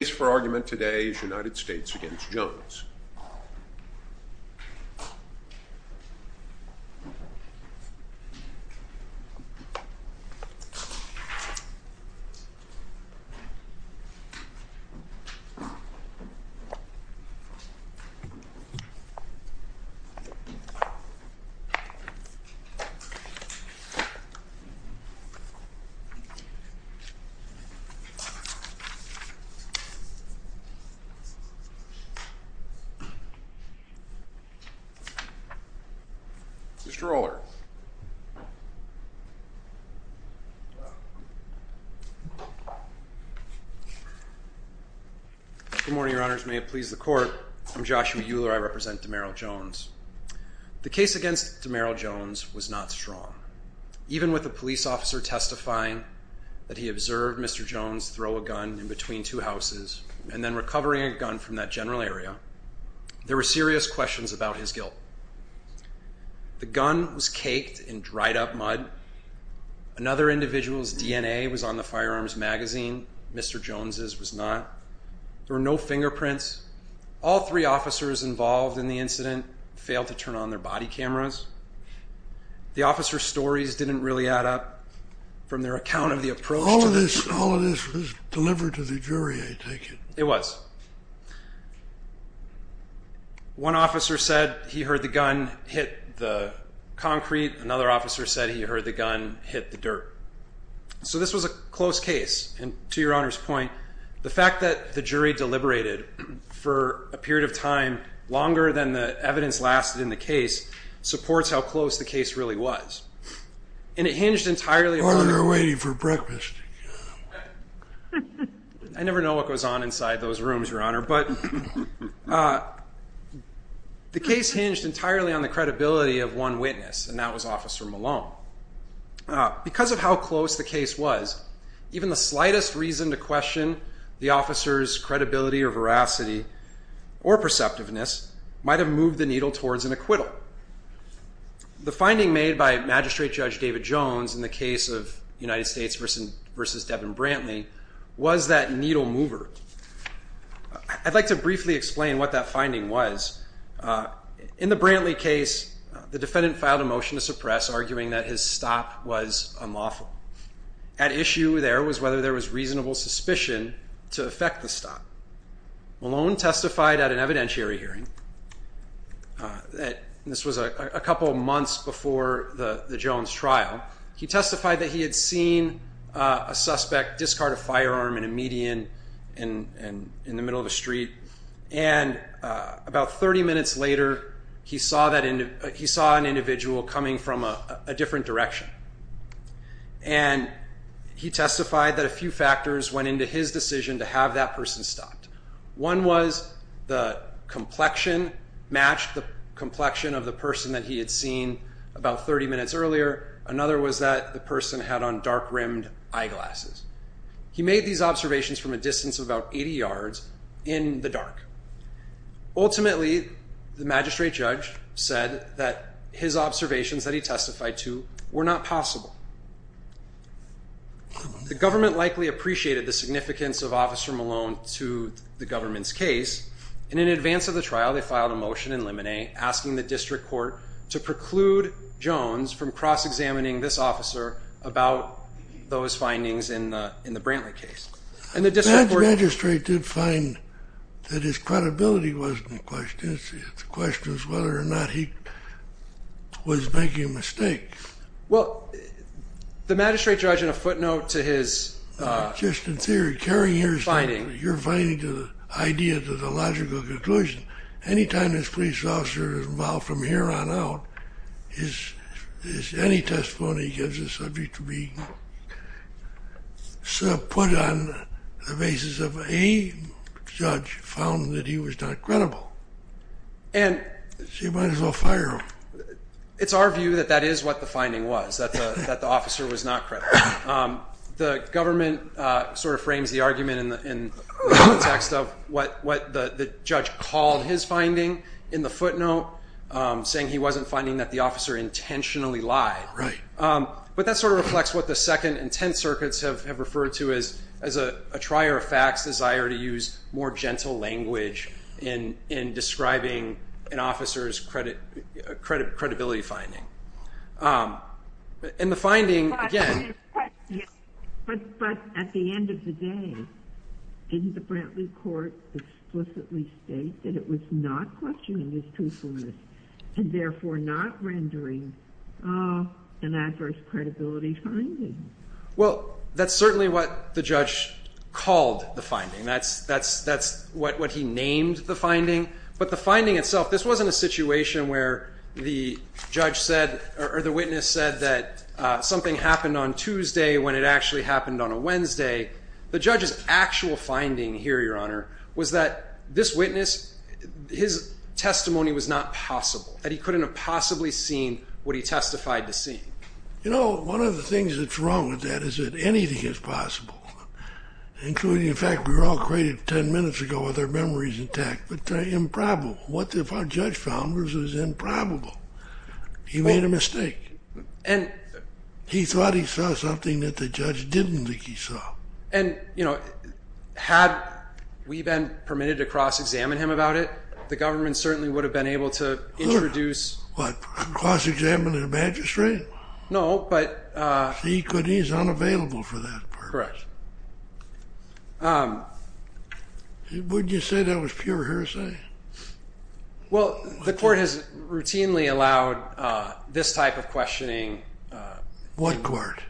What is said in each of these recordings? The case for argument today is United States v. Jones. Good morning, Your Honors. May it please the Court, I'm Joshua Euler. I represent Demarrel Jones. The case against Demarrel Jones was not strong. Even with a police officer testifying that he observed Mr. Jones throw a gun in between two houses and then recovering a gun from that general area, there were serious questions about his guilt. The gun was caked in dried up mud. Another individual's DNA was on the firearms magazine. Mr. Jones's was not. There were no fingerprints. All three officers involved in the incident failed to account of the approach. All of this was delivered to the jury, I take it? It was. One officer said he heard the gun hit the concrete. Another officer said he heard the gun hit the dirt. So this was a close case. And to Your Honor's point, the fact that the jury deliberated for a period of time longer than the evidence lasted in the case supports how close the case really was. And it hinged entirely on the credibility of one witness, and that was Officer Malone. Because of how close the case was, even the slightest reason to question the officer's credibility or veracity or perceptiveness might have moved the needle towards an acquittal. The finding made by Magistrate Judge David Jones in the case of United States v. Devin Brantley was that needle mover. I'd like to briefly explain what that finding was. In the Brantley case, the defendant filed a motion to suppress, arguing that his stop was unlawful. At issue there was whether there was reasonable suspicion to affect the hearing. This was a couple of months before the Jones trial. He testified that he had seen a suspect discard a firearm in a median in the middle of the street. And about 30 minutes later, he saw an individual coming from a different direction. And he testified that a few factors went into his decision to have that person stopped. One was the complexion matched the complexion of the person that he had seen about 30 minutes earlier. Another was that the person had on dark rimmed eyeglasses. He made these observations from a distance of about 80 yards in the dark. Ultimately, the magistrate judge said that his observations that he testified to were not possible. The government likely appreciated the significance of Officer Malone to the government's case. And in advance of the trial, they filed a motion in limine, asking the district court to preclude Jones from cross-examining this officer about those findings in the Brantley case. And the district court... The magistrate did find that his credibility wasn't the question. The question is whether or not he was making a mistake. Well, the magistrate judge, in a footnote to his... Just in theory, you're finding the idea to the logical conclusion, anytime this police officer is involved from here on out, any testimony gives the subject to be sort of put on the basis of a judge found that he was not credible. And... She might as well fire him. It's our view that that is what the finding was, that the officer was not credible. The government sort of frames the argument in the context of what the judge called his finding in the footnote, saying he wasn't finding that the officer intentionally lied. Right. But that sort of reflects what the Second and Tenth Circuits have referred to as a trier of facts, desire to use more gentle language in describing an officer's credibility finding. And the finding, again... But at the end of the day, didn't the Brantley court explicitly state that it was not questioning his truthfulness and therefore not rendering an adverse credibility finding? Well, that's certainly what the judge called the finding. That's what he named the finding. But the finding itself, this wasn't a situation where the judge said or the witness said that something happened on Tuesday when it actually happened on a Wednesday. The judge's actual finding here, Your Honor, was that this witness, his testimony was not possible, that he couldn't have possibly seen what he testified to see. You know, one of the things that's wrong with that is that anything is possible, including the fact we were all created 10 minutes ago with our memories intact, but they're improbable. What if our judge found this is improbable? He made a mistake. And... And, you know, had we been permitted to cross-examine him about it, the government certainly would have been able to introduce... What, cross-examine the magistrate? No, but... He's unavailable for that purpose. Correct. Wouldn't you say that was pure hearsay? Well, the court has routinely allowed this type of questioning... What court?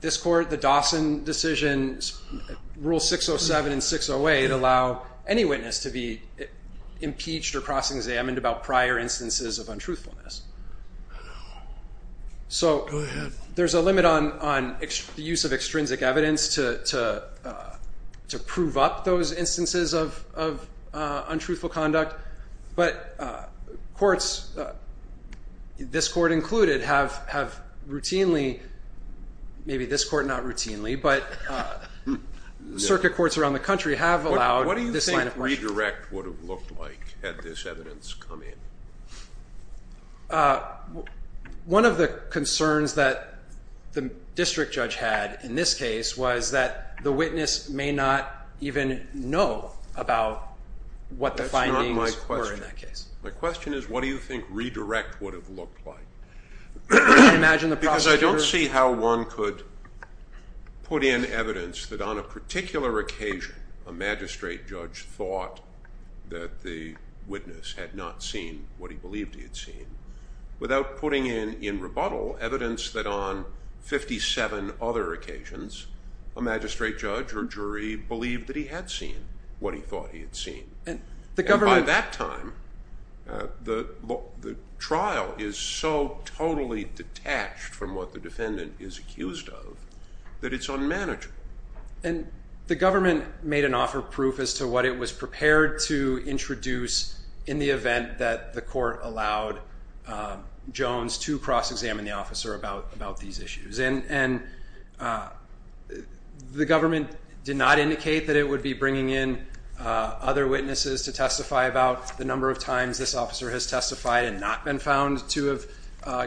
This court, the Dawson decision, Rule 607 and 608 allow any witness to be impeached or cross-examined about prior instances of untruthfulness. So there's a limit on the use of extrinsic evidence to prove up those instances of untruthfulness. Certainly, maybe this court not routinely, but circuit courts around the country have allowed this line of questioning. What do you think redirect would have looked like had this evidence come in? One of the concerns that the district judge had in this case was that the witness may not even know about what the findings were in that case. My question is, what do you think redirect would have looked like? Can you imagine the prosecutor... Because I don't see how one could put in evidence that on a particular occasion, a magistrate judge thought that the witness had not seen what he believed he had seen, without putting in, in rebuttal, evidence that on 57 other occasions, a magistrate judge or jury believed that he had seen what he thought he had seen. And the government... Totally detached from what the defendant is accused of, that it's unmanageable. And the government made an offer of proof as to what it was prepared to introduce in the event that the court allowed Jones to cross-examine the officer about these issues. And the government did not indicate that it would be bringing in other witnesses to testify about the number of times this officer has testified and not been found to have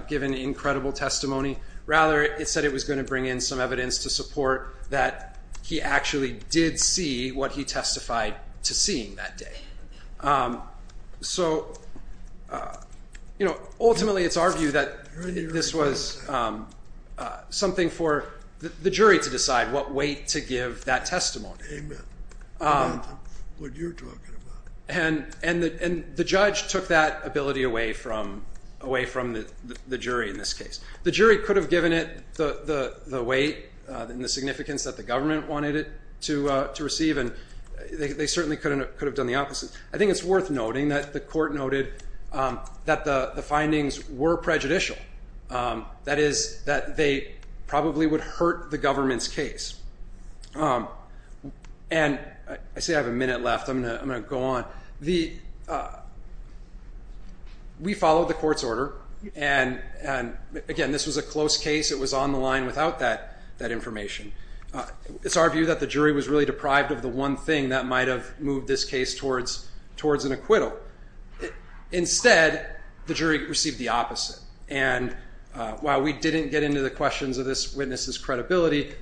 given incredible testimony. Rather, it said it was going to bring in some evidence to support that he actually did see what he testified to seeing that day. So ultimately, it's our view that this was something for the jury to decide what weight to give that testimony. Amen. What you're talking about. And the judge took that ability away from the jury in this case. The jury could have given it the weight and the significance that the government wanted it to receive. And they certainly could have done the opposite. I think it's worth noting that the court noted that the findings were prejudicial. That is, that they probably would hurt the government's case. And I see I have a minute left. I'm going to go on. We followed the court's order. And again, this was a close case. It was on the line without that information. It's our view that the jury was really deprived of the one thing that might have moved this case towards an acquittal. Instead, the jury received the opposite. And while we didn't get into the questions of this witness's credibility,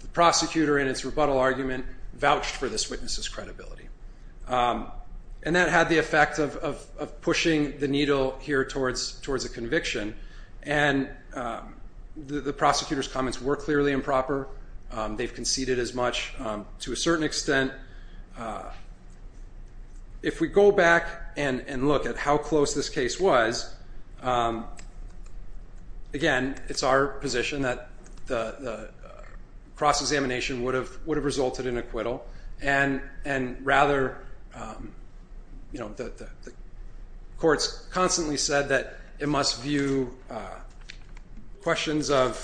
the prosecutor in its rebuttal argument vouched for this witness's credibility. And that had the effect of pushing the needle here towards a conviction. And the prosecutor's comments were clearly improper. They've conceded as much to a certain extent. If we go back and look at how close this case was, again, it's our position that the cross examination would have resulted in acquittal. And rather, the court's constantly said that it must view questions of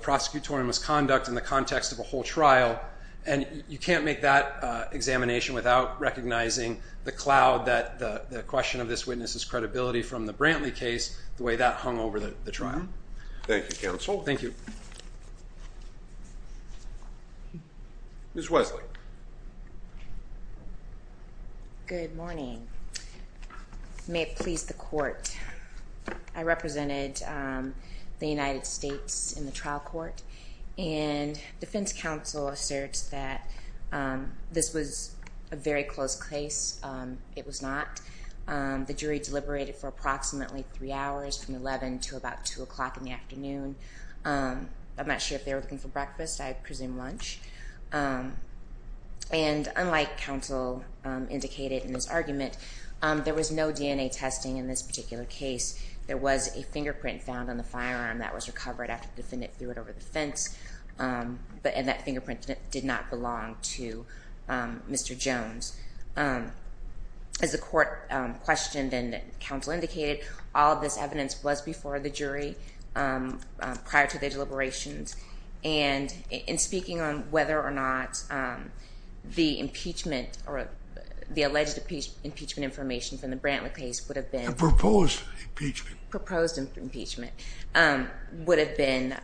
prosecutorial misconduct in the context of a whole trial. And you can't make that examination without recognizing the cloud that the question of this witness's credibility from the Brantley case, the way that hung over the trial. Thank you, counsel. Thank you. Ms. Wesley. Good morning. May it please the court. I represented the United States in the trial court. And defense counsel asserts that this was a very close case. It was not. The jury deliberated for approximately three hours, from 11 to about 2 o'clock in the afternoon. I'm not sure if they were looking for breakfast. I presume lunch. And unlike counsel indicated in this argument, there was no DNA testing in this particular case. There was a fingerprint found on the firearm that was recovered after the defendant threw it over the fence. And that fingerprint did not belong to Mr. Jones. As the court questioned and counsel indicated, all of this evidence was before the jury prior to their deliberations. And in speaking on whether or not the impeachment, or the alleged impeachment information from the Brantley case would have been. A proposed impeachment. Proposed impeachment. Would have been,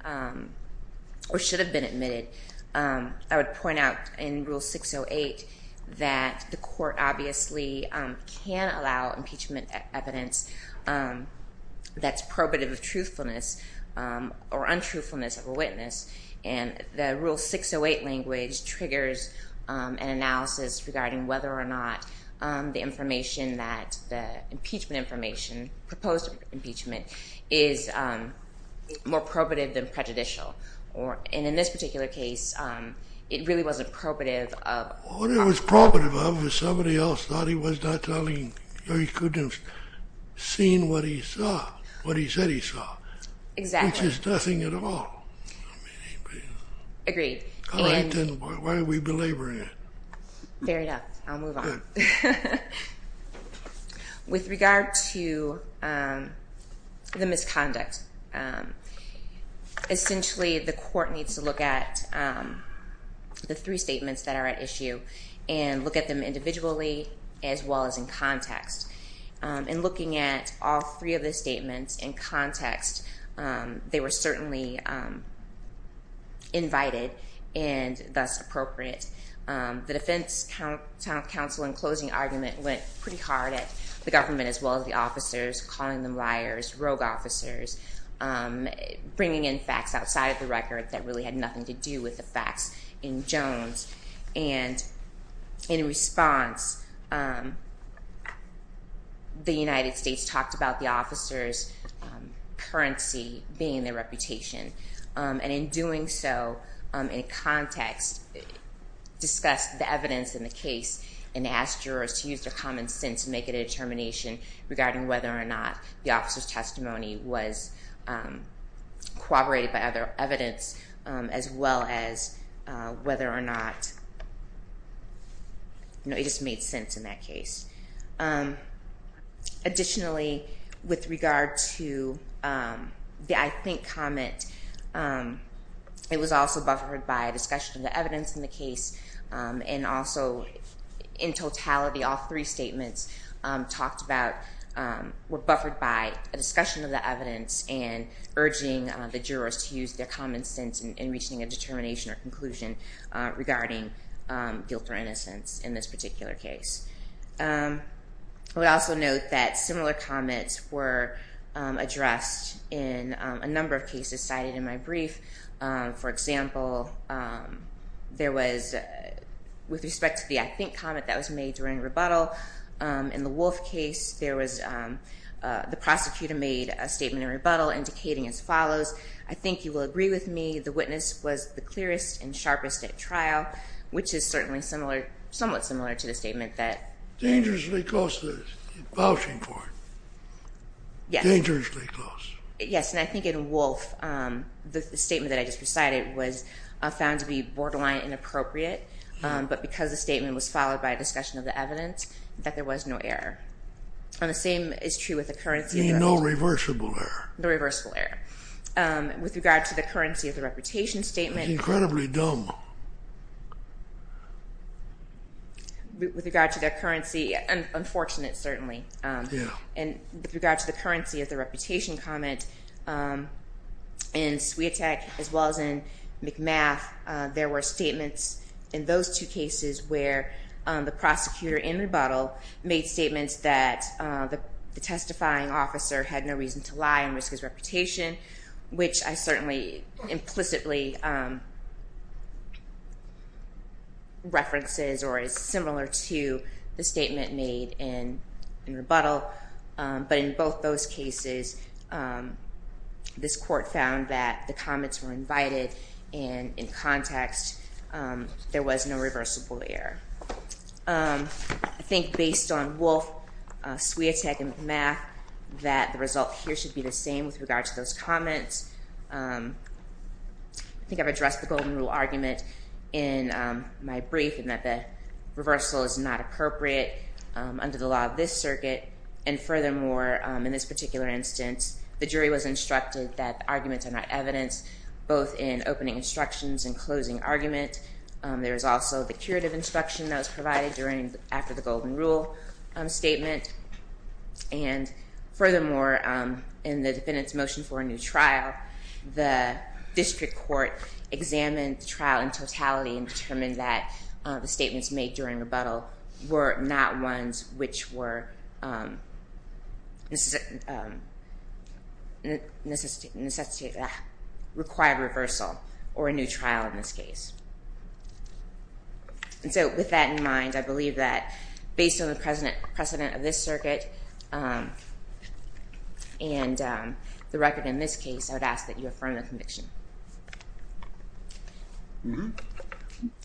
or should have been admitted. I would point out in Rule 608 that the court obviously can allow impeachment evidence that's or untruthfulness of a witness. And the Rule 608 language triggers an analysis regarding whether or not the information that the impeachment information, proposed impeachment, is more probative than prejudicial. And in this particular case, it really wasn't probative of. What it was probative of was somebody else thought he was not telling, or he couldn't seen what he saw. What he said he saw. Exactly. Which is nothing at all. Agreed. All right, then why are we belaboring it? Fair enough. I'll move on. With regard to the misconduct. Essentially, the court needs to look at the three statements that are at issue. And look at them individually, as well as in context. In looking at all three of the statements in context, they were certainly invited and thus appropriate. The defense counsel in closing argument went pretty hard at the government, as well as the officers, calling them liars, rogue officers, bringing in facts outside of the record that really had nothing to do with the facts in Jones. And in response, the United States talked about the officer's currency being their reputation. And in doing so, in context, discussed the evidence in the case and asked jurors to use their common sense to make a determination regarding whether or not the officer's It just made sense in that case. Additionally, with regard to the I think comment, it was also buffered by a discussion of the evidence in the case. And also, in totality, all three statements were buffered by a discussion of the evidence and urging the jurors to use their common sense in reaching a determination or conclusion regarding guilt or innocence in this particular case. I would also note that similar comments were addressed in a number of cases cited in my brief. For example, there was, with respect to the I think comment that was made during rebuttal, in the Wolf case, there was, the prosecutor made a statement of rebuttal indicating as follows. I think you will agree with me. The witness was the clearest and sharpest at trial, which is certainly similar, somewhat similar to the statement that. Dangerously close to the vouching court. Yes. Dangerously close. Yes, and I think in Wolf, the statement that I just recited was found to be borderline inappropriate, but because the statement was followed by a discussion of the evidence, that there was no error. And the same is true with the currency. No reversible error. No reversible error. With regard to the currency of the reputation statement. Incredibly dumb. With regard to the currency, unfortunate certainly. And with regard to the currency of the reputation comment, in Swiatek as well as in McMath, there were statements in those two cases where the prosecutor in rebuttal made statements that the testifying officer had no reason to lie and risk his reputation, which I certainly implicitly references or is similar to the statement made in rebuttal. But in both those cases, this court found that the comments were invited and in context, there was no reversible error. I think based on Wolf, Swiatek, and McMath, that the result here should be the same with regard to those comments. I think I've addressed the golden rule argument in my brief and that the reversal is not appropriate under the law of this circuit. And furthermore, in this particular instance, the jury was instructed that the arguments are not evidence, both in opening instructions and closing argument. There is also the curative instruction that was provided after the golden rule statement. And furthermore, in the defendant's motion for a new trial, the district court examined the trial in totality and determined that the statements made during rebuttal were not ones which required reversal or a new trial in this case. And so with that in mind, I believe that based on the precedent of this circuit and the record in this case, I would ask that you affirm the conviction.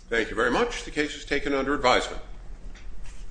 Thank you very much. The case is taken under advisement.